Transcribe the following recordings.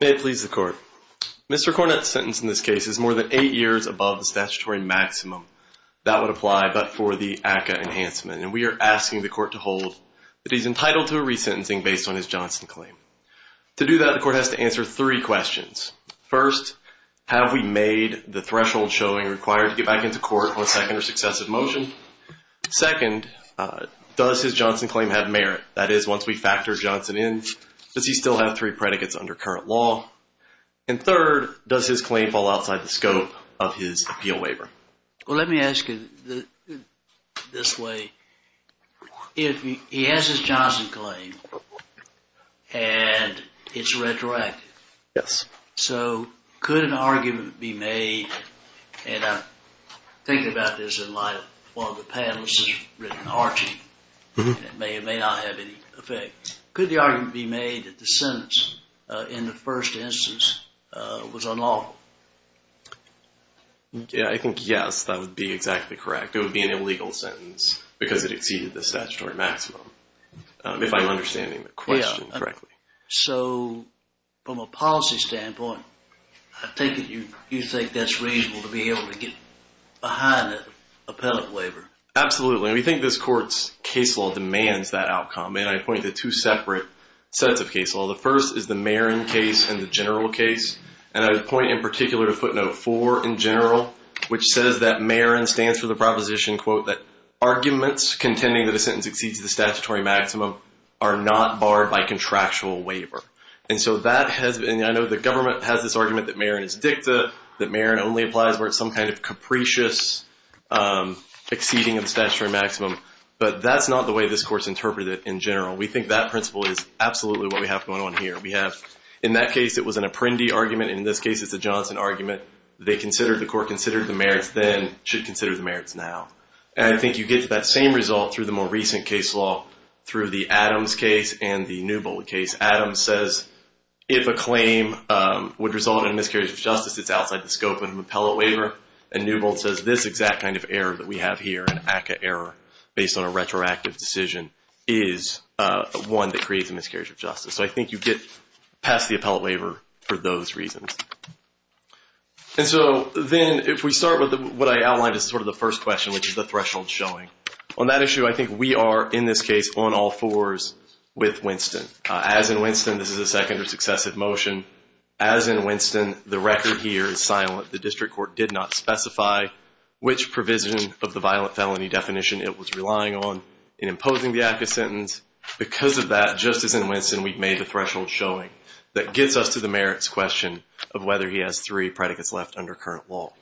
May it please the court. Mr. Cornette's sentence in this case is more than eight years above the statutory maximum that would apply but for the ACCA enhancement and we are asking the court to hold that he's entitled to a resentencing based on his Johnson claim. To do that the court has to answer three questions. First, have we made the threshold showing required to get back into court on a second or successive motion? Second, does his Johnson claim have merit? That is once we factor Johnson in, does he still have three predicates under current law? And third, does his claim fall outside the scope of his appeal waiver? Well let me ask you this way. If he has his Johnson claim and it's retroactive. Yes. So could an argument be made and I'm thinking about this in light of one of the panelists that's written Archie. It may or may not have any effect. Could the argument be made that the sentence in the first instance was unlawful? Yeah, I think yes. That would be exactly correct. It would be an illegal sentence because it exceeded the statutory maximum. If I'm understanding the question correctly. So from a policy standpoint, I take it you think that's reasonable to be able to get behind the appellate waiver. Absolutely. We think this court's case law demands that outcome. And I point to two separate sets of case law. The first is the Marin case and the general case. And I would point in particular to footnote four in general which says that Marin stands for the proposition quote that arguments contending that a sentence exceeds the statutory maximum are not barred by contractual waiver. And so that has been, I know the government has this argument that Marin is dicta, that Marin only applies where it's some kind of capricious exceeding of the statutory maximum. But that's not the way this court's interpreted it in general. We think that principle is absolutely what we have going on here. We have in that case it was an apprendee argument. In this case it's a Johnson argument. They considered, the court considered the merits then should consider the merits now. And I think you get to that same result through the more recent case law through the Adams case and the Newbold case. Adams says if a claim would result in a miscarriage of justice, it's outside the scope of an appellate waiver. And Newbold says this exact kind of error that we have here, an ACCA error based on a retroactive decision is one that creates a miscarriage of justice. So I think you get past the appellate waiver for those reasons. And so then if we start with what I outlined as sort of the first question, which is the threshold showing. On that issue, I think we are in this case on all fours with Winston. As in Winston, this is a second or successive motion. As in Winston, the record here is silent. The district court did not specify which provision of the violent felony definition it was relying on in imposing the ACCA sentence. And because of that, just as in Winston, we've made the threshold showing that gets us to the merits question of whether he has three predicates left under current law.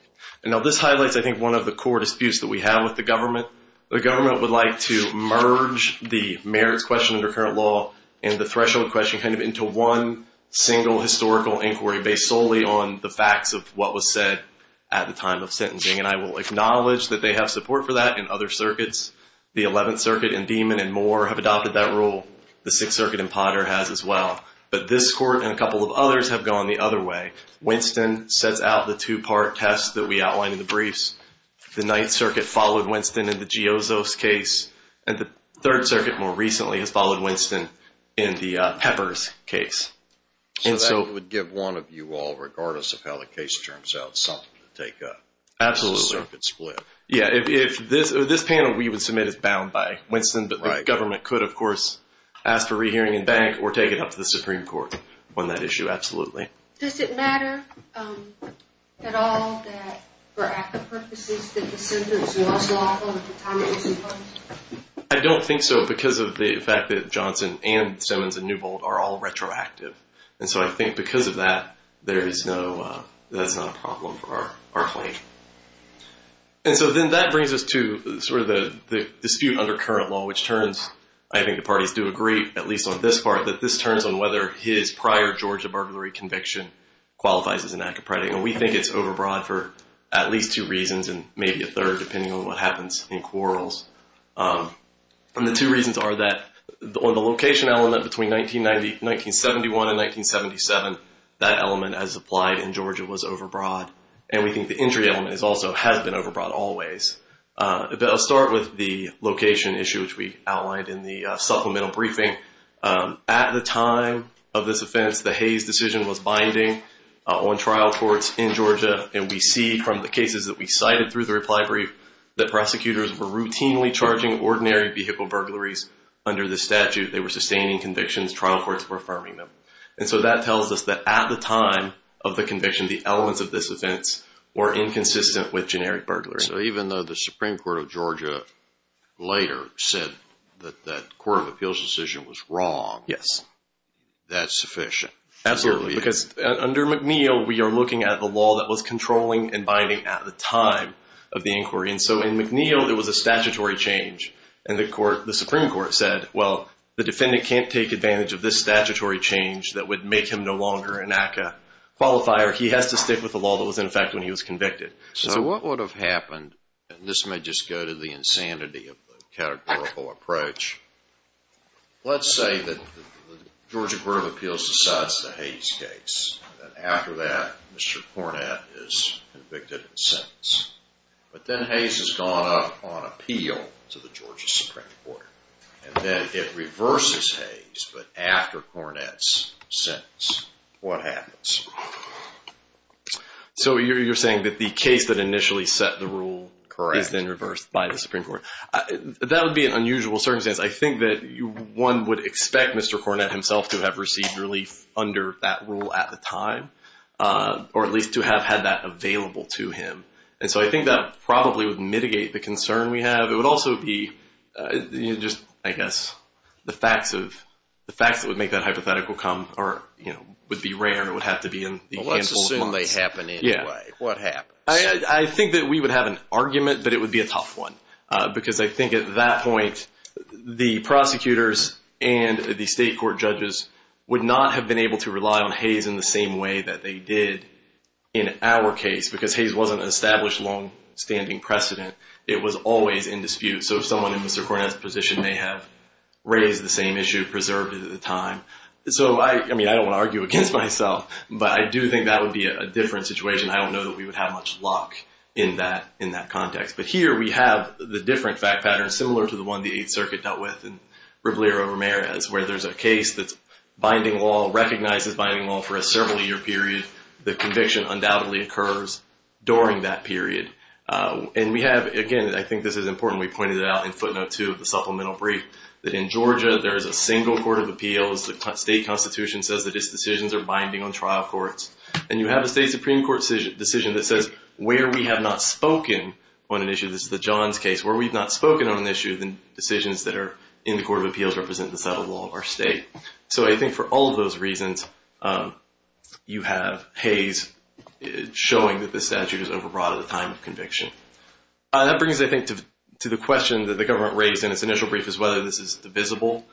And now this highlights I think one of the core disputes that we have with the government. The government would like to merge the merits question under current law and the threshold question kind of into one single historical inquiry based solely on the facts of what was said at the time of sentencing. And I will acknowledge that they have support for that in other circuits. The 11th Circuit in Demon and Moore have adopted that rule. The 6th Circuit in Potter has as well. But this court and a couple of others have gone the other way. Winston sets out the two-part test that we outlined in the briefs. The 9th Circuit followed Winston in the Giozzo's case. And the 3rd Circuit more recently has followed Winston in the Pepper's case. So that would give one of you all, regardless of how the case turns out, something to take up. Absolutely. Circuit split. Yeah. If this panel we would submit is bound by Winston, but the government could, of course, ask for rehearing in bank or take it up to the Supreme Court on that issue. Absolutely. Does it matter at all that for ACCA purposes that the sentence was lawful at the time it was imposed? I don't think so because of the fact that Johnson and Simmons and Newbold are all retroactive. And so I think because of that, there is no, that's not a problem for our claim. And so then that brings us to sort of the dispute under current law, which turns, I think the parties do agree, at least on this part, that this turns on whether his prior Georgia burglary conviction qualifies as an act of predating. And we think it's overbroad for at least two reasons and maybe a third depending on what happens in quarrels. And the two reasons are that on the location element between 1970, 1971 and 1977, that element as applied in Georgia was overbroad. And we think the injury element also has been overbroad always. But I'll start with the location issue, which we outlined in the supplemental briefing. At the time of this offense, the Hayes decision was binding on trial courts in Georgia. And we see from the cases that we cited through the reply brief that prosecutors were routinely charging ordinary vehicle burglaries under the statute. They were sustaining convictions. Trial courts were affirming them. And so that tells us that at the time of the conviction, the elements of this offense were inconsistent with generic burglary. So even though the Supreme Court of Georgia later said that that court of appeals decision was wrong. Yes. That's sufficient. Absolutely. Because under McNeil, we are looking at the law that was controlling and binding at the time of the inquiry. And so in McNeil, there was a statutory change. And the Supreme Court said, well, the defendant can't take advantage of this statutory change that would make him no longer an ACCA qualifier. He has to stick with the law that was in effect when he was convicted. So what would have happened, and this may just go to the insanity of the categorical approach. Let's say that the Georgia Court of Appeals decides the Hayes case. And after that, Mr. Cornett is convicted and sentenced. But then Hayes has gone up on appeal to the Georgia Supreme Court. And then it reverses Hayes, but after Cornett's sentence. What happens? So you're saying that the case that initially set the rule is then reversed by the Supreme Court. That would be an unusual circumstance. I think that one would expect Mr. Cornett himself to have received relief under that rule at the time. Or at least to have had that available to him. And so I think that probably would mitigate the concern we have. It would also be just, I guess, the facts that would make that hypothetical come would be rare. It would have to be in the handful of months. Well, let's assume they happen anyway. What happens? I think that we would have an argument, but it would be a tough one. Because I think at that point, the prosecutors and the state court judges would not have been able to rely on Hayes in the same way that they did in our case. Because Hayes wasn't an established long-standing precedent. It was always in dispute. So someone in Mr. Cornett's position may have raised the same issue, preserved it at the time. So, I mean, I don't want to argue against myself, but I do think that would be a different situation. I don't know that we would have much luck in that context. But here we have the different fact patterns, similar to the one the Eighth Circuit dealt with in Rivlier v. Ramirez, where there's a case that's binding law, recognizes binding law for a several-year period. The conviction undoubtedly occurs during that period. And we have, again, I think this is important, we pointed it out in footnote 2 of the supplemental brief, that in Georgia there is a single court of appeals. The state constitution says that its decisions are binding on trial courts. And you have a state Supreme Court decision that says where we have not spoken on an issue, this is the Johns case, where we've not spoken on an issue, the decisions that are in the court of appeals represent the settled law of our state. So I think for all of those reasons, you have Hayes showing that the statute is overbroad at the time of conviction. That brings, I think, to the question that the government raised in its initial brief, is whether this is divisible.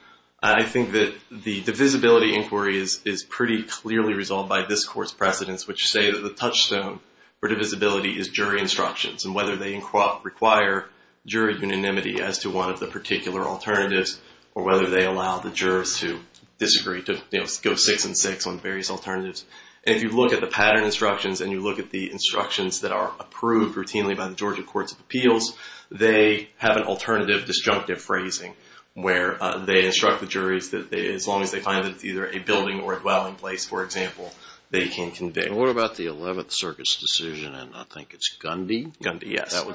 I think that the divisibility inquiry is pretty clearly resolved by this court's precedents, which say that the touchstone for divisibility is jury instructions, and whether they require jury unanimity as to one of the particular alternatives, or whether they allow the jurors to disagree, to go six and six on various alternatives. And if you look at the pattern instructions and you look at the instructions that are approved routinely by the Georgia courts of appeals, they have an alternative disjunctive phrasing, where they instruct the juries that as long as they find that it's either a building or a dwelling place, for example, they can convict. And what about the 11th Circuit's decision, and I think it's Gundy? Gundy, yes. That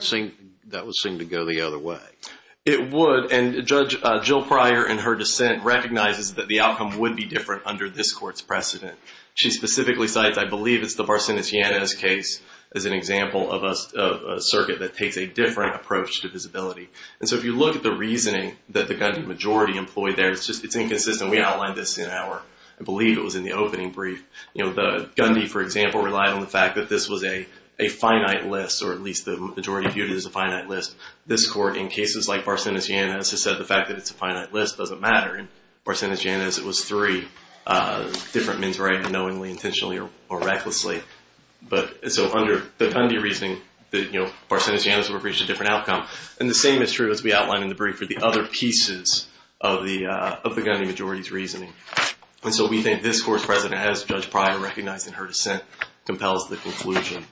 would seem to go the other way. It would, and Judge Jill Pryor, in her dissent, recognizes that the outcome would be different under this court's precedent. She specifically cites, I believe, it's the Barcenas-Yanez case as an example of a circuit that takes a different approach to divisibility. And so if you look at the reasoning that the Gundy majority employed there, it's inconsistent. We outlined this in our, I believe it was in the opening brief. You know, the Gundy, for example, relied on the fact that this was a finite list, or at least the majority viewed it as a finite list. This court, in cases like Barcenas-Yanez, has said the fact that it's a finite list doesn't matter. In Barcenas-Yanez, it was three different men's rights, knowingly, intentionally, or recklessly. So under the Gundy reasoning, you know, Barcenas-Yanez would have reached a different outcome. And the same is true, as we outlined in the brief, for the other pieces of the Gundy majority's reasoning. And so we think this court's precedent, as Judge Pryor recognized in her dissent, compels the conclusion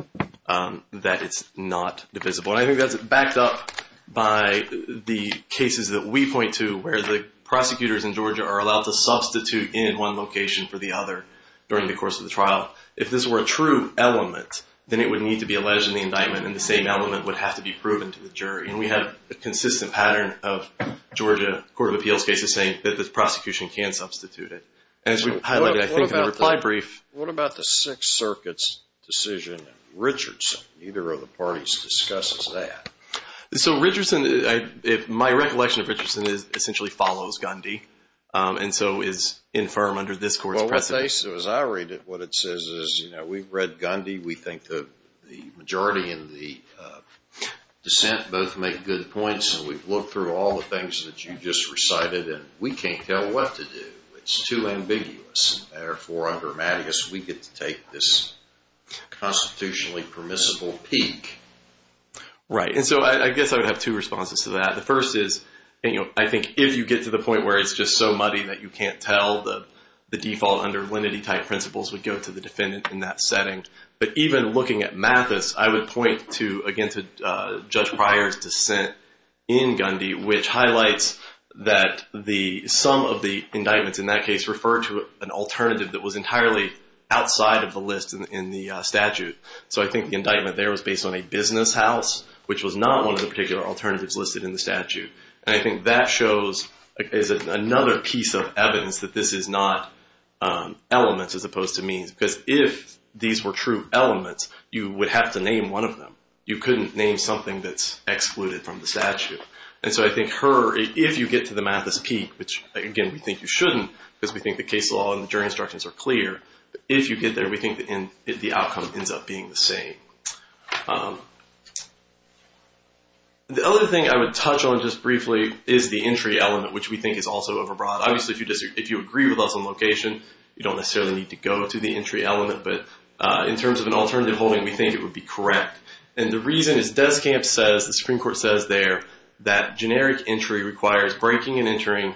that it's not divisible. And I think that's backed up by the cases that we point to, where the prosecutors in Georgia are allowed to substitute in one location for the other during the course of the trial. If this were a true element, then it would need to be alleged in the indictment, and the same element would have to be proven to the jury. And we have a consistent pattern of Georgia Court of Appeals cases saying that the prosecution can substitute it. As we highlighted, I think, in the reply brief. What about the Sixth Circuit's decision in Richardson? Neither of the parties discusses that. So Richardson, my recollection of Richardson is it essentially follows Gundy, and so is infirm under this court's precedent. Well, as I read it, what it says is, you know, we've read Gundy. We think the majority in the dissent both make good points, and we've looked through all the things that you just recited, and we can't tell what to do. It's too ambiguous. Therefore, under Mattius, we get to take this constitutionally permissible peak. Right. And so I guess I would have two responses to that. The first is, you know, I think if you get to the point where it's just so muddy that you can't tell, the default under lenity-type principles would go to the defendant in that setting. But even looking at Mattius, I would point to, again, to Judge Pryor's dissent in Gundy, which highlights that some of the indictments in that case refer to an alternative that was entirely outside of the list in the statute. So I think the indictment there was based on a business house, which was not one of the particular alternatives listed in the statute. And I think that shows as another piece of evidence that this is not elements as opposed to means, because if these were true elements, you would have to name one of them. You couldn't name something that's excluded from the statute. And so I think if you get to the Mattius peak, which, again, we think you shouldn't, because we think the case law and the jury instructions are clear, if you get there, we think the outcome ends up being the same. The other thing I would touch on just briefly is the entry element, which we think is also overbroad. Obviously, if you agree with us on location, you don't necessarily need to go to the entry element. But in terms of an alternative holding, we think it would be correct. And the reason is Deskamp says, the Supreme Court says there, that generic entry requires breaking and entering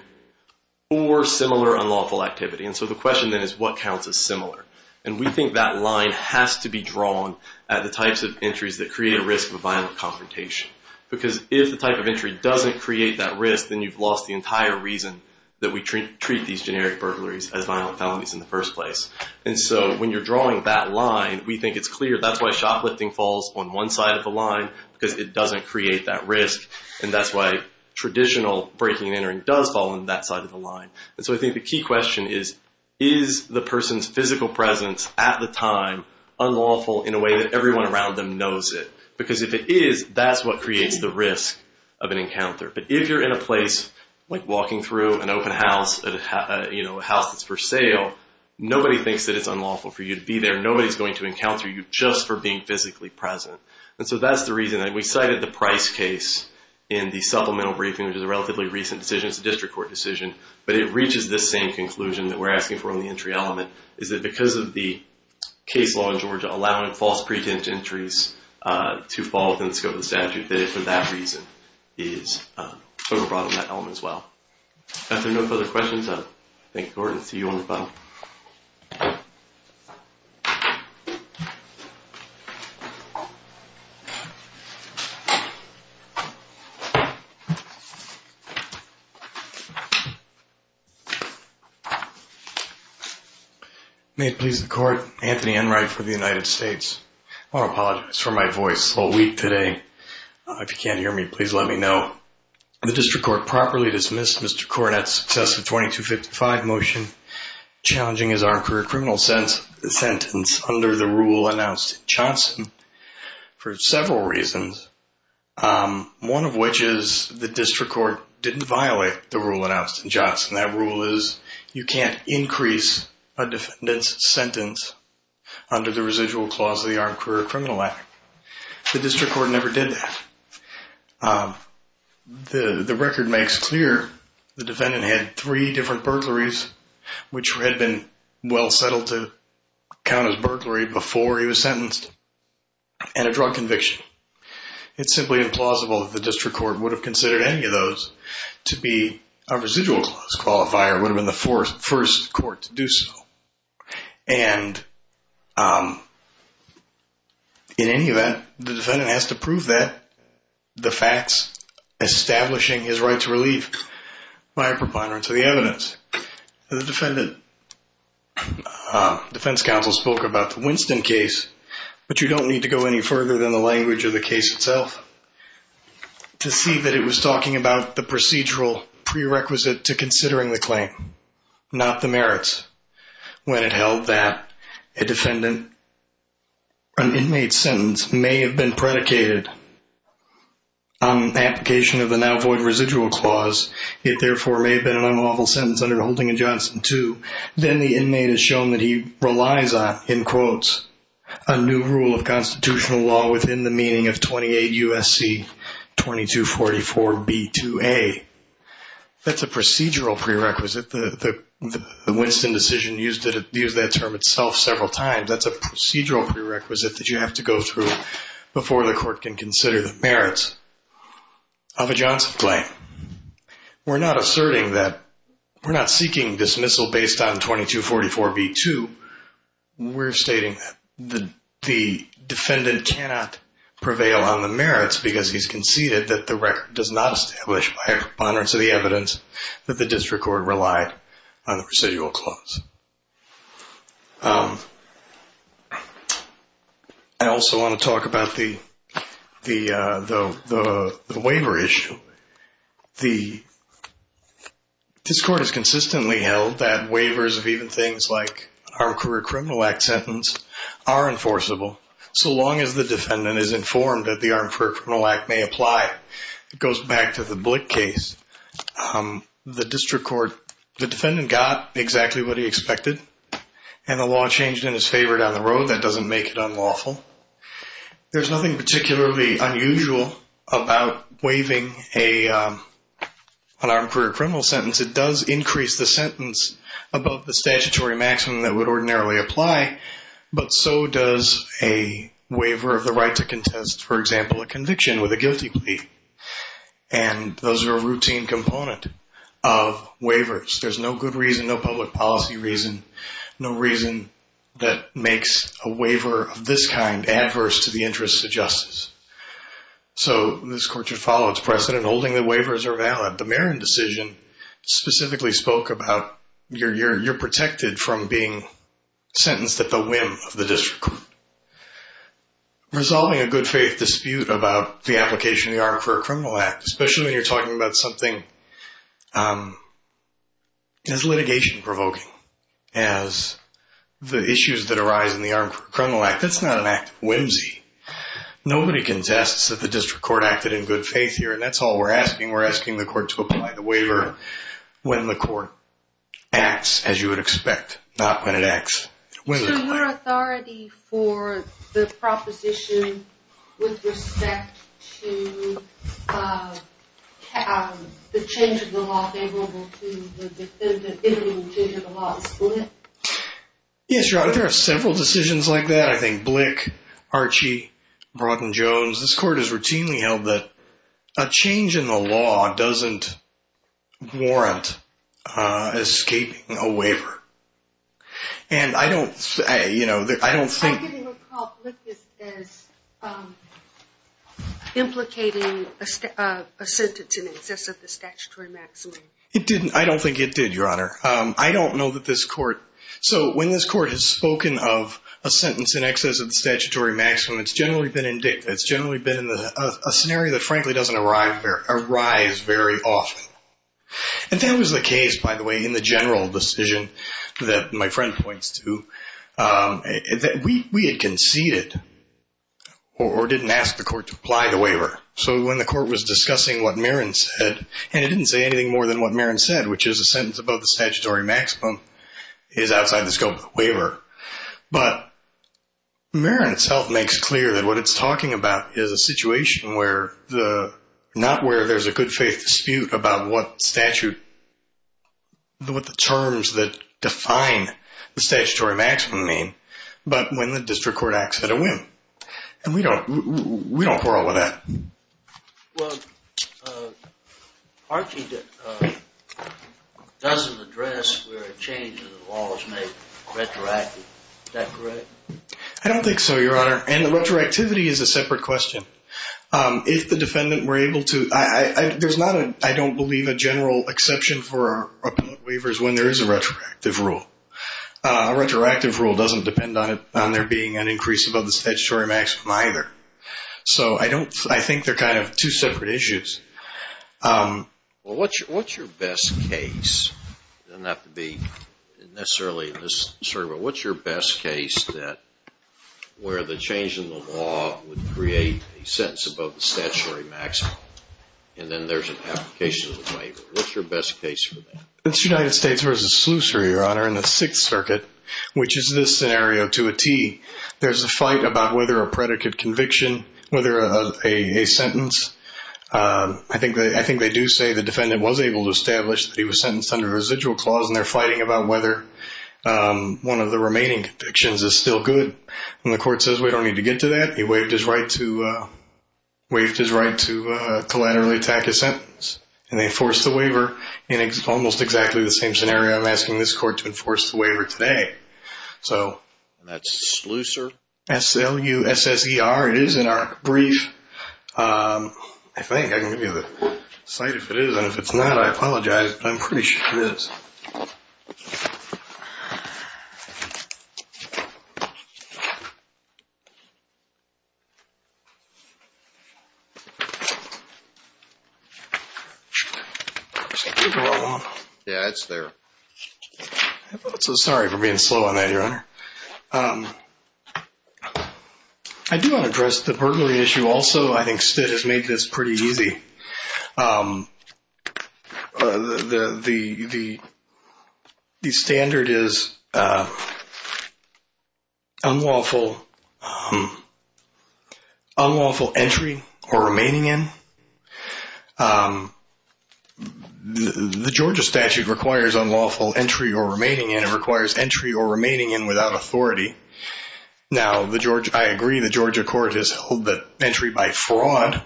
for similar unlawful activity. And so the question then is what counts as similar? And we think that line has to be drawn at the types of entries that create a risk of a violent confrontation. Because if the type of entry doesn't create that risk, then you've lost the entire reason that we treat these generic burglaries as violent felonies in the first place. And so when you're drawing that line, we think it's clear. That's why shoplifting falls on one side of the line, because it doesn't create that risk. And that's why traditional breaking and entering does fall on that side of the line. And so I think the key question is, is the person's physical presence at the time unlawful in a way that everyone around them knows it? Because if it is, that's what creates the risk of an encounter. But if you're in a place like walking through an open house, you know, a house that's for sale, nobody thinks that it's unlawful for you to be there. Nobody's going to encounter you just for being physically present. And so that's the reason that we cited the Price case in the supplemental briefing, which is a relatively recent decision. It's a district court decision. But it reaches this same conclusion that we're asking for in the entry element, is that because of the case law in Georgia allowing false pretense entries to fall within the scope of the statute, that it for that reason is sort of brought on that element as well. If there are no further questions, I thank Gordon. See you on the phone. May it please the court. Anthony Enright for the United States. I want to apologize for my voice this whole week today. If you can't hear me, please let me know. The district court properly dismissed Mr. Cornett's successive 2255 motion challenging his armed career criminal sentence under the rule announced in Johnson for several reasons. One of which is the district court didn't violate the rule announced in Johnson. That rule is you can't increase a defendant's sentence under the residual clause of the Armed Career Criminal Act. The district court never did that. The record makes clear the defendant had three different burglaries, which had been well settled to count as burglary before he was sentenced, and a drug conviction. It's simply implausible that the district court would have considered any of those to be a residual clause qualifier. It would have been the first court to do so. And in any event, the defendant has to prove that, the facts establishing his right to relieve by a preponderance of the evidence. The defendant, defense counsel spoke about the Winston case, but you don't need to go any further than the language of the case itself to see that it was talking about the procedural prerequisite to considering the claim, not the merits. When it held that a defendant, an inmate's sentence may have been predicated on application of the now void residual clause, it therefore may have been an unlawful sentence under the holding of Johnson too, then the inmate is shown that he relies on, in quotes, a new rule of constitutional law within the meaning of 28 U.S.C. 2244 B.2.A. That's a procedural prerequisite. The Winston decision used that term itself several times. That's a procedural prerequisite that you have to go through before the court can consider the merits of a Johnson claim. We're not asserting that, we're not seeking dismissal based on 2244 B.2. We're stating that the defendant cannot prevail on the merits because he's conceded that the record does not establish by a preponderance of the evidence that the district court relied on the residual clause. I also want to talk about the waiver issue. This court has consistently held that waivers of even things like an Armed Career Criminal Act sentence are enforceable, so long as the defendant is informed that the Armed Career Criminal Act may apply. It goes back to the Blick case. The district court, the defendant got exactly what he expected, and the law changed in his favor down the road. That doesn't make it unlawful. There's nothing particularly unusual about waiving an armed career criminal sentence. It does increase the sentence above the statutory maximum that would ordinarily apply, but so does a waiver of the right to contest, for example, a conviction with a guilty plea. Those are a routine component of waivers. There's no good reason, no public policy reason, no reason that makes a waiver of this kind adverse to the interests of justice. This court should follow its precedent. Holding the waivers are valid. The Marin decision specifically spoke about you're protected from being sentenced at the whim of the district court. Resolving a good faith dispute about the application of the Armed Career Criminal Act, especially when you're talking about something as litigation-provoking as the issues that arise in the Armed Career Criminal Act, that's not an act of whimsy. Nobody contests that the district court acted in good faith here, and that's all we're asking. We're asking the court to apply the waiver when the court acts as you would expect, not when it acts. So your authority for the proposition with respect to the change of the law, favorable to the defending the change of the law, is split? Yes, Your Honor. There are several decisions like that. I think Blick, Archie, Brock and Jones. This court has routinely held that a change in the law doesn't warrant escaping a waiver. And I don't think... I didn't recall Blick as implicating a sentence in excess of the statutory maximum. It didn't. I don't think it did, Your Honor. I don't know that this court... So when this court has spoken of a sentence in excess of the statutory maximum, it's generally been a scenario that frankly doesn't arise very often. And that was the case, by the way, in the general decision that my friend points to. We had conceded or didn't ask the court to apply the waiver. So when the court was discussing what Marin said, and it didn't say anything more than what Marin said, which is a sentence above the statutory maximum is outside the scope of the waiver. But Marin itself makes clear that what it's talking about is a situation where the... what statute... what the terms that define the statutory maximum mean, but when the district court acts at a whim. And we don't quarrel with that. Well, Archie doesn't address where a change in the law is made retroactively. Is that correct? I don't think so, Your Honor. And the retroactivity is a separate question. If the defendant were able to... There's not, I don't believe, a general exception for a waiver is when there is a retroactive rule. A retroactive rule doesn't depend on there being an increase above the statutory maximum either. So I don't... I think they're kind of two separate issues. Well, what's your best case? It doesn't have to be necessarily... Sorry, but what's your best case that... where the change in the law would create a sentence above the statutory maximum and then there's an application of the waiver? What's your best case for that? It's United States v. Slusary, Your Honor, in the Sixth Circuit, which is this scenario to a T. There's a fight about whether a predicate conviction, whether a sentence... I think they do say the defendant was able to establish that he was sentenced under a residual clause and they're fighting about whether one of the remaining convictions is still good. And the court says we don't need to get to that. He waived his right to collaterally attack his sentence. And they enforce the waiver in almost exactly the same scenario. I'm asking this court to enforce the waiver today. So that's Slusar, S-L-U-S-S-E-R. It is in our brief. I think I can give you the cite if it is. And if it's not, I apologize, but I'm pretty sure it is. Yeah, it's there. I feel so sorry for being slow on that, Your Honor. I do want to address the burglary issue also. I think Stitt has made this pretty easy. The standard is unlawful entry or remaining in. The Georgia statute requires unlawful entry or remaining in. It requires entry or remaining in without authority. Now, I agree the Georgia court has held that entry by fraud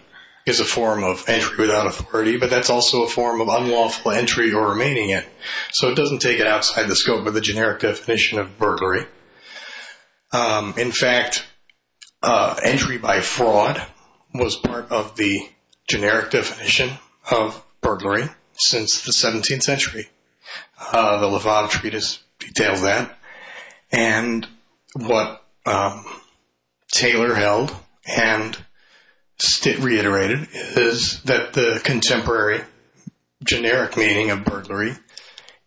is a form of entry without authority, but that's also a form of unlawful entry or remaining in. So it doesn't take it outside the scope of the generic definition of burglary. In fact, entry by fraud was part of the generic definition of burglary since the 17th century. The Levada Treatise details that. And what Taylor held and Stitt reiterated is that the contemporary generic meaning of burglary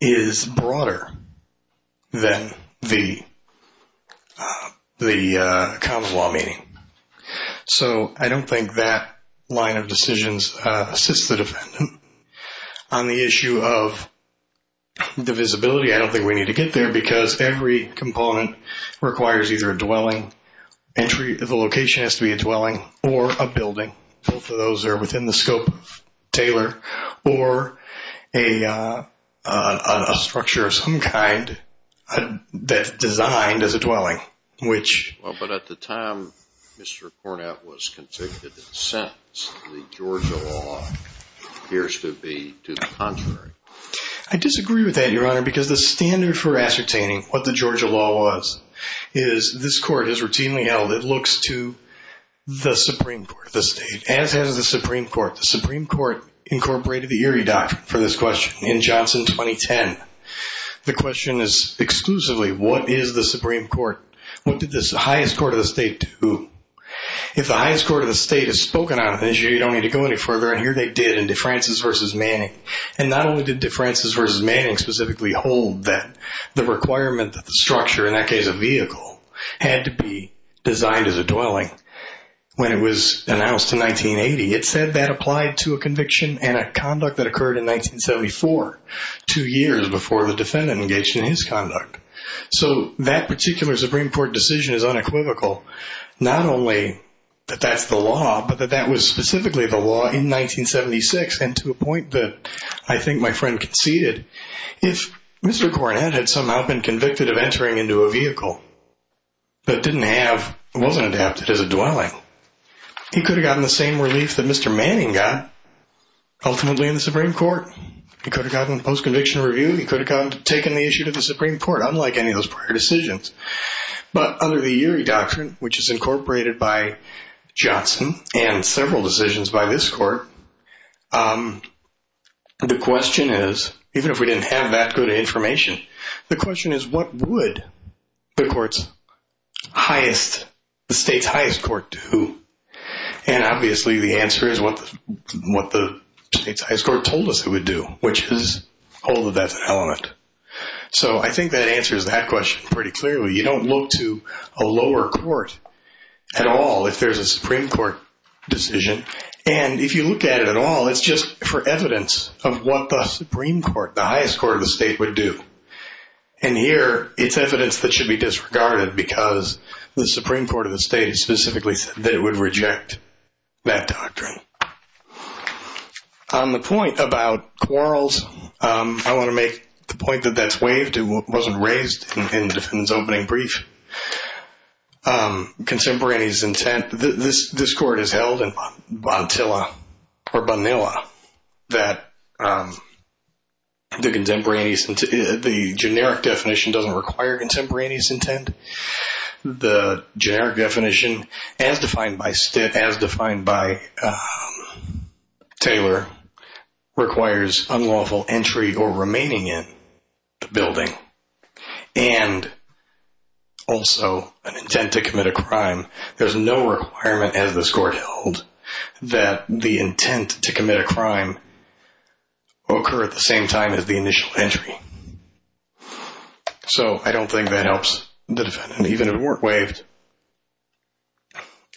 is broader than the common law meaning. So I don't think that line of decisions assists the defendant on the issue of the visibility. I don't think we need to get there because every component requires either a dwelling entry. The location has to be a dwelling or a building. Both of those are within the scope of Taylor. Or a structure of some kind that's designed as a dwelling. Well, but at the time Mr. Cornett was convicted and sentenced, the Georgia law appears to be to the contrary. I disagree with that, Your Honor, because the standard for ascertaining what the Georgia law was is this court has routinely held it looks to the Supreme Court of the state, as has the Supreme Court. The Supreme Court incorporated the Erie Doctrine for this question in Johnson 2010. The question is exclusively what is the Supreme Court? What did the highest court of the state do? If the highest court of the state has spoken on the issue, you don't need to go any further. And here they did in DeFrancis v. Manning. And not only did DeFrancis v. Manning specifically hold that the requirement that the structure, in that case a vehicle, had to be designed as a dwelling when it was announced in 1980. It said that applied to a conviction and a conduct that occurred in 1974, two years before the defendant engaged in his conduct. So that particular Supreme Court decision is unequivocal. Not only that that's the law, but that that was specifically the law in 1976. And to a point that I think my friend conceded. If Mr. Cornett had somehow been convicted of entering into a vehicle, but didn't have, wasn't adapted as a dwelling, he could have gotten the same relief that Mr. Manning got ultimately in the Supreme Court. He could have gotten a post-conviction review. He could have taken the issue to the Supreme Court, unlike any of those prior decisions. But under the Urey Doctrine, which is incorporated by Johnson and several decisions by this court, the question is, even if we didn't have that good information, the question is what would the court's highest, the state's highest court do? And obviously the answer is what the state's highest court told us it would do, which is, although that's an element. So I think that answers that question pretty clearly. You don't look to a lower court at all if there's a Supreme Court decision. And if you look at it at all, it's just for evidence of what the Supreme Court, the highest court of the state would do. And here it's evidence that should be disregarded because the Supreme Court of the state specifically said that it would reject that doctrine. On the point about quarrels, I want to make the point that that's waived. It wasn't raised in the defendant's opening brief. Contemporaneous intent. This court has held in Bantilla or Bonilla that the generic definition doesn't require contemporaneous intent. The generic definition as defined by Taylor requires unlawful entry or remaining in the building and also an intent to commit a crime. There's no requirement as this court held that the intent to commit a crime occur at the same time as the initial entry. So I don't think that helps the defendant, even if it weren't waived.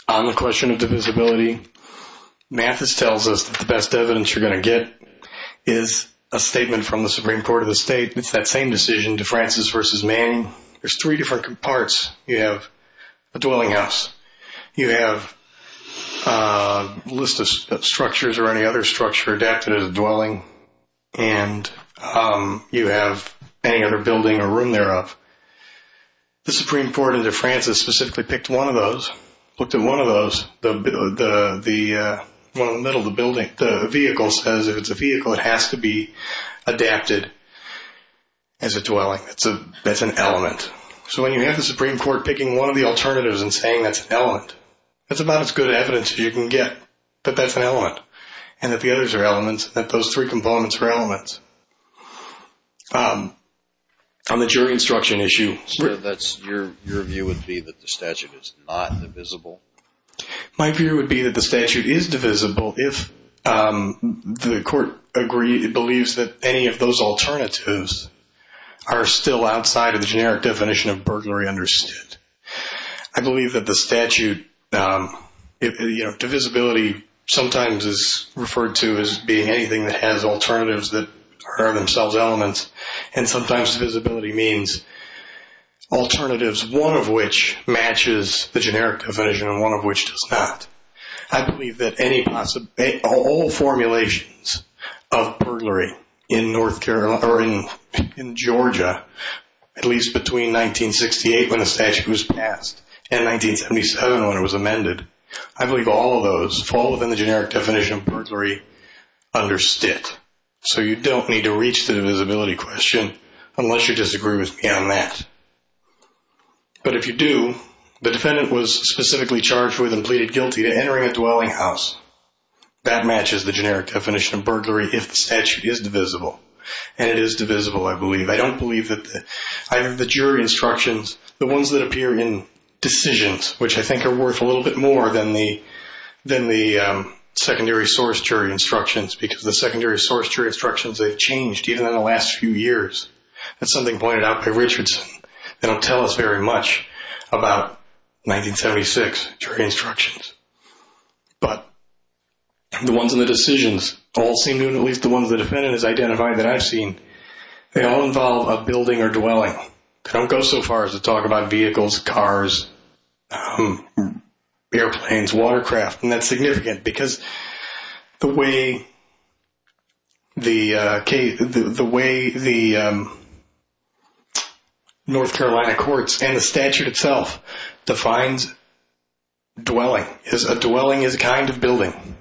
On the question of divisibility, Mathis tells us that the best evidence you're going to get is a statement from the Supreme Court of the state. It's that same decision, DeFrancis versus Manning. There's three different parts. You have a dwelling house. You have a list of structures or any other structure adapted as a dwelling. And you have any other building or room thereof. The Supreme Court of DeFrancis specifically picked one of those, looked at one of those, the one in the middle of the building. The vehicle says if it's a vehicle, it has to be adapted as a dwelling. That's an element. So when you have the Supreme Court picking one of the alternatives and saying that's an element, that's about as good evidence as you can get that that's an element, and that the others are elements, that those three components are elements. On the jury instruction issue. So that's your view would be that the statute is not divisible? My view would be that the statute is divisible if the court believes that any of those alternatives are still outside of the generic definition of burglary understood. I believe that the statute, you know, divisibility sometimes is referred to as being anything that has alternatives that are themselves elements. And sometimes divisibility means alternatives, one of which matches the generic definition and one of which does not. I believe that all formulations of burglary in Georgia, at least between 1968 when the statute was passed and 1977 when it was amended, I believe all of those fall within the generic definition of burglary understood. So you don't need to reach the divisibility question unless you disagree with me on that. But if you do, the defendant was specifically charged with and pleaded guilty to entering a dwelling house. That matches the generic definition of burglary if the statute is divisible. And it is divisible, I believe. I don't believe that the jury instructions, the ones that appear in decisions, which I think are worth a little bit more than the secondary source jury instructions, because the secondary source jury instructions have changed even in the last few years. That's something pointed out by Richardson. They don't tell us very much about 1976 jury instructions. But the ones in the decisions all seem to, at least the ones the defendant has identified that I've seen, they all involve a building or dwelling. They don't go so far as to talk about vehicles, cars, airplanes, watercraft. And that's significant because the way the North Carolina courts and the statute itself defines dwelling is a dwelling is a kind of building.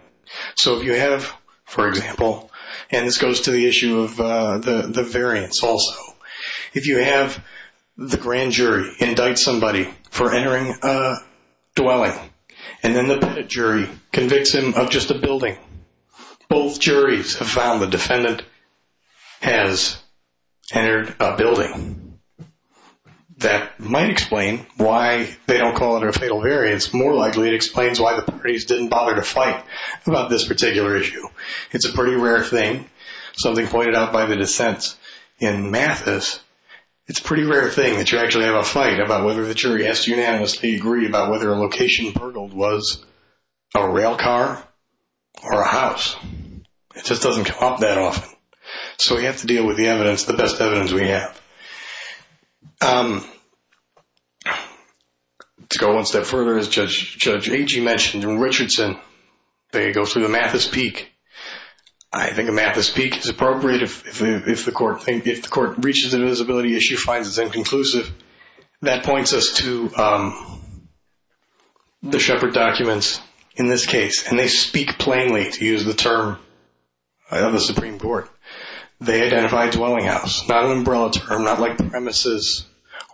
So if you have, for example, and this goes to the issue of the variance also, if you have the grand jury indict somebody for entering a dwelling and then the pettit jury convicts him of just a building, both juries have found the defendant has entered a building. That might explain why they don't call it a fatal variance. More likely it explains why the parties didn't bother to fight about this particular issue. It's a pretty rare thing, something pointed out by the dissents in Mathis. It's a pretty rare thing that you actually have a fight about whether the jury has to unanimously agree about whether a location burgled was a rail car or a house. It just doesn't come up that often. So we have to deal with the evidence, the best evidence we have. To go one step further, as Judge Agee mentioned, in Richardson, they go through the Mathis Peek. I think a Mathis Peek is appropriate if the court reaches an invisibility issue, finds it inconclusive. That points us to the Shepard documents in this case, and they speak plainly to use the term of the Supreme Court. They identify dwelling house, not an umbrella term, not like premises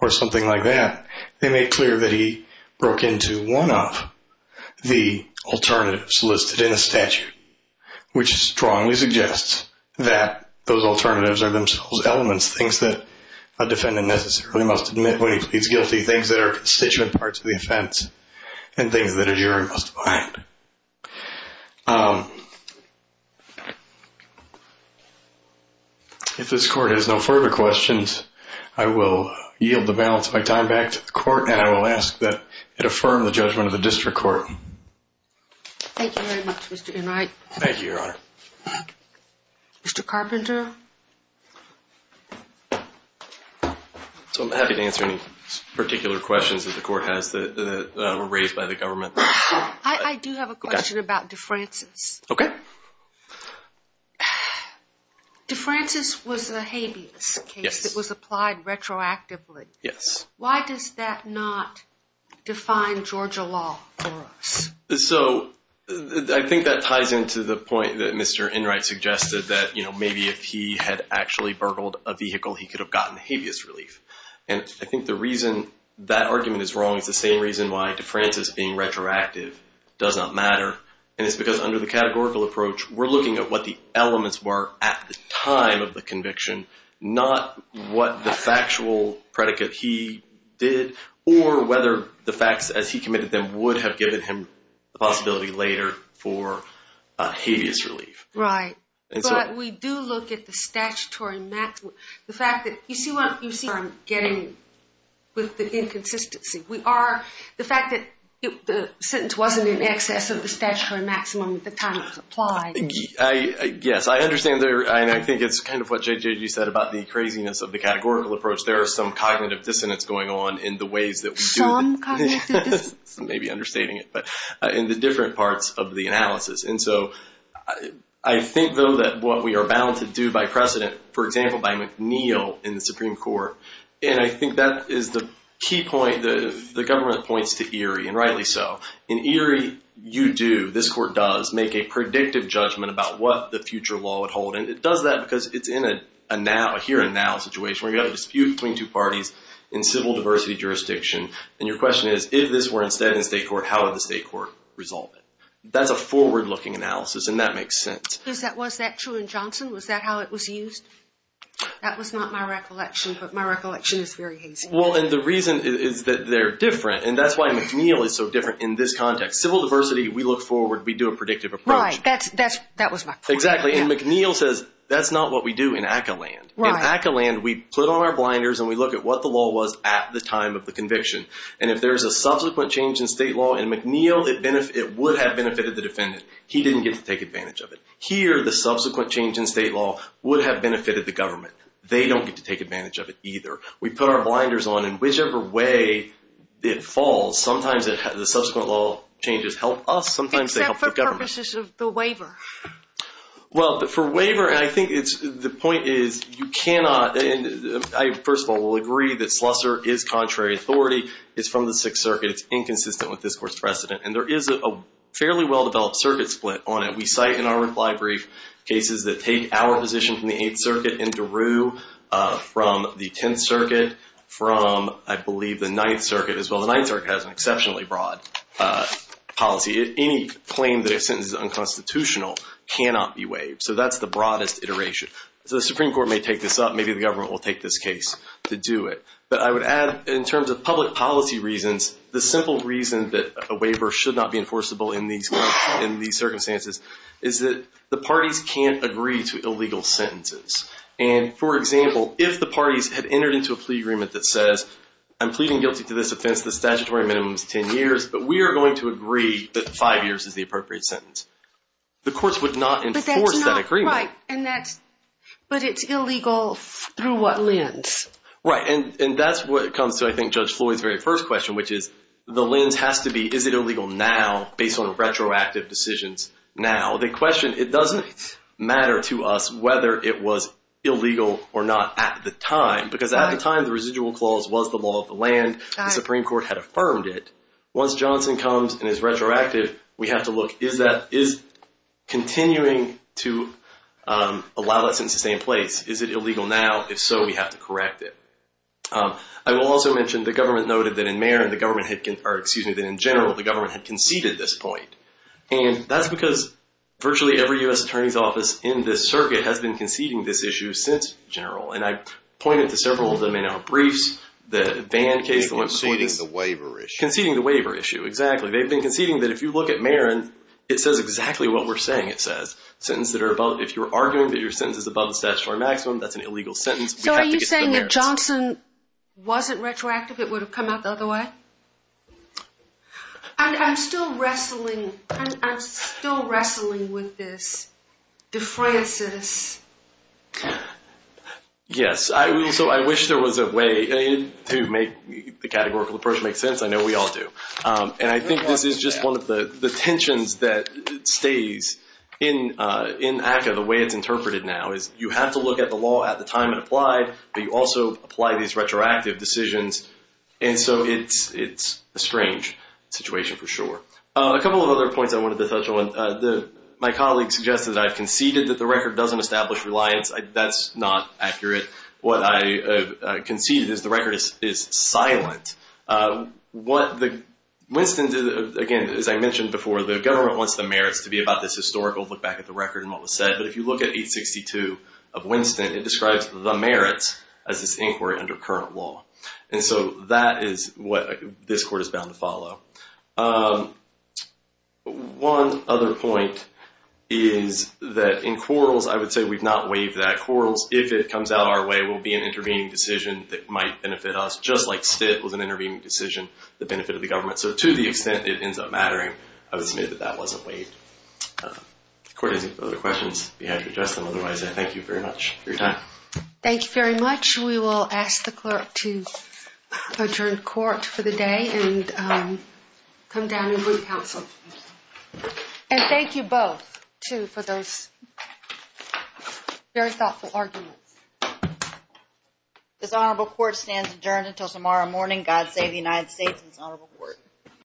or something like that. They make clear that he broke into one of the alternatives listed in the statute, which strongly suggests that those alternatives are themselves elements, things that a defendant necessarily must admit when he pleads guilty, things that are constituent parts of the offense, and things that a jury must find. If this court has no further questions, I will yield the balance of my time back to the court, and I will ask that it affirm the judgment of the district court. Thank you very much, Mr. Enright. Thank you, Your Honor. Mr. Carpenter? So I'm happy to answer any particular questions that the court has that were raised by the government. I do have a question about DeFrancis. Okay. DeFrancis was a habeas case that was applied retroactively. Yes. Why does that not define Georgia law for us? So I think that ties into the point that Mr. Enright suggested, that, you know, maybe if he had actually burgled a vehicle, he could have gotten habeas relief. And I think the reason that argument is wrong is the same reason why DeFrancis being retroactive does not matter, and it's because under the categorical approach, we're looking at what the elements were at the time of the conviction, not what the factual predicate he did or whether the facts as he committed them would have given him the possibility later for habeas relief. Right. But we do look at the statutory maximum. The fact that, you see what I'm getting with the inconsistency. We are, the fact that the sentence wasn't in excess of the statutory maximum at the time it was applied. Yes, I understand. And I think it's kind of what JJ, you said about the craziness of the categorical approach. There is some cognitive dissonance going on in the ways that we do. Some cognitive dissonance? Maybe understating it, but in the different parts of the analysis. And so I think, though, that what we are bound to do by precedent, for example, by McNeil in the Supreme Court, and I think that is the key point the government points to Erie, and rightly so. In Erie, you do, this court does, make a predictive judgment about what the future law would hold. And it does that because it's in a now, a here and now situation. We've got a dispute between two parties in civil diversity jurisdiction. And your question is, if this were instead in state court, how would the state court resolve it? That's a forward-looking analysis, and that makes sense. Was that true in Johnson? Was that how it was used? That was not my recollection, but my recollection is very hazy. Well, and the reason is that they're different, and that's why McNeil is so different in this context. Civil diversity, we look forward, we do a predictive approach. Right, that was my point. Exactly, and McNeil says that's not what we do in ACA land. In ACA land, we put on our blinders and we look at what the law was at the time of the conviction. And if there's a subsequent change in state law in McNeil, it would have benefited the defendant. He didn't get to take advantage of it. Here, the subsequent change in state law would have benefited the government. They don't get to take advantage of it either. We put our blinders on, and whichever way it falls, sometimes the subsequent law changes help us, sometimes they help the government. Except for purposes of the waiver. Well, for waiver, and I think the point is you cannot, and I, first of all, will agree that Slusser is contrary authority. It's from the Sixth Circuit. It's inconsistent with this Court's precedent. And there is a fairly well-developed circuit split on it. We cite in our reply brief cases that take our position from the Eighth Circuit in Daru, from the Tenth Circuit, from, I believe, the Ninth Circuit as well. The Ninth Circuit has an exceptionally broad policy. Any claim that a sentence is unconstitutional cannot be waived. So that's the broadest iteration. So the Supreme Court may take this up. Maybe the government will take this case to do it. But I would add, in terms of public policy reasons, the simple reason that a waiver should not be enforceable in these circumstances is that the parties can't agree to illegal sentences. And, for example, if the parties had entered into a plea agreement that says, I'm pleading guilty to this offense, the statutory minimum is ten years, but we are going to agree that five years is the appropriate sentence, the courts would not enforce that agreement. Right. But it's illegal through what lens? Right. And that's what comes to, I think, Judge Floyd's very first question, which is, the lens has to be, is it illegal now, based on retroactive decisions now? The question, it doesn't matter to us whether it was illegal or not at the time. Because at the time, the residual clause was the law of the land. The Supreme Court had affirmed it. Once Johnson comes and is retroactive, we have to look, is continuing to allow that sentence to stay in place, is it illegal now? If so, we have to correct it. I will also mention the government noted that in Marin, the government had, or excuse me, that in general, the government had conceded this point. And that's because virtually every U.S. Attorney's Office in this circuit has been conceding this issue since general. And I pointed to several of them in our briefs, the van case, the one conceding. Conceding the waiver issue. Conceding the waiver issue, exactly. They've been conceding that if you look at Marin, it says exactly what we're saying it says. Sentence that are above, if you're arguing that your sentence is above the statutory maximum, that's an illegal sentence. So are you saying if Johnson wasn't retroactive, it would have come out the other way? I'm still wrestling, I'm still wrestling with this defrancis. Yes. So I wish there was a way to make the categorical approach make sense. I know we all do. And I think this is just one of the tensions that stays in ACCA, the way it's interpreted now, is you have to look at the law at the time it applied, but you also apply these retroactive decisions. And so it's a strange situation for sure. A couple of other points I wanted to touch on. My colleague suggested that I've conceded that the record doesn't establish reliance. That's not accurate. What I conceded is the record is silent. Winston, again, as I mentioned before, the government wants the merits to be about this historical, look back at the record and what was said. But if you look at 862 of Winston, it describes the merits as this inquiry under current law. And so that is what this court is bound to follow. One other point is that in quarrels, I would say we've not waived that. Quarrels, if it comes out our way, will be an intervening decision that might benefit us. Just like Stitt was an intervening decision that benefited the government. So to the extent it ends up mattering, I would submit that that wasn't waived. If the court has any further questions, we have to address them. Otherwise, I thank you very much for your time. Thank you very much. We will ask the clerk to adjourn court for the day and come down and move counsel. And thank you both, too, for those very thoughtful arguments. This honorable court stands adjourned until tomorrow morning. God save the United States and this honorable court.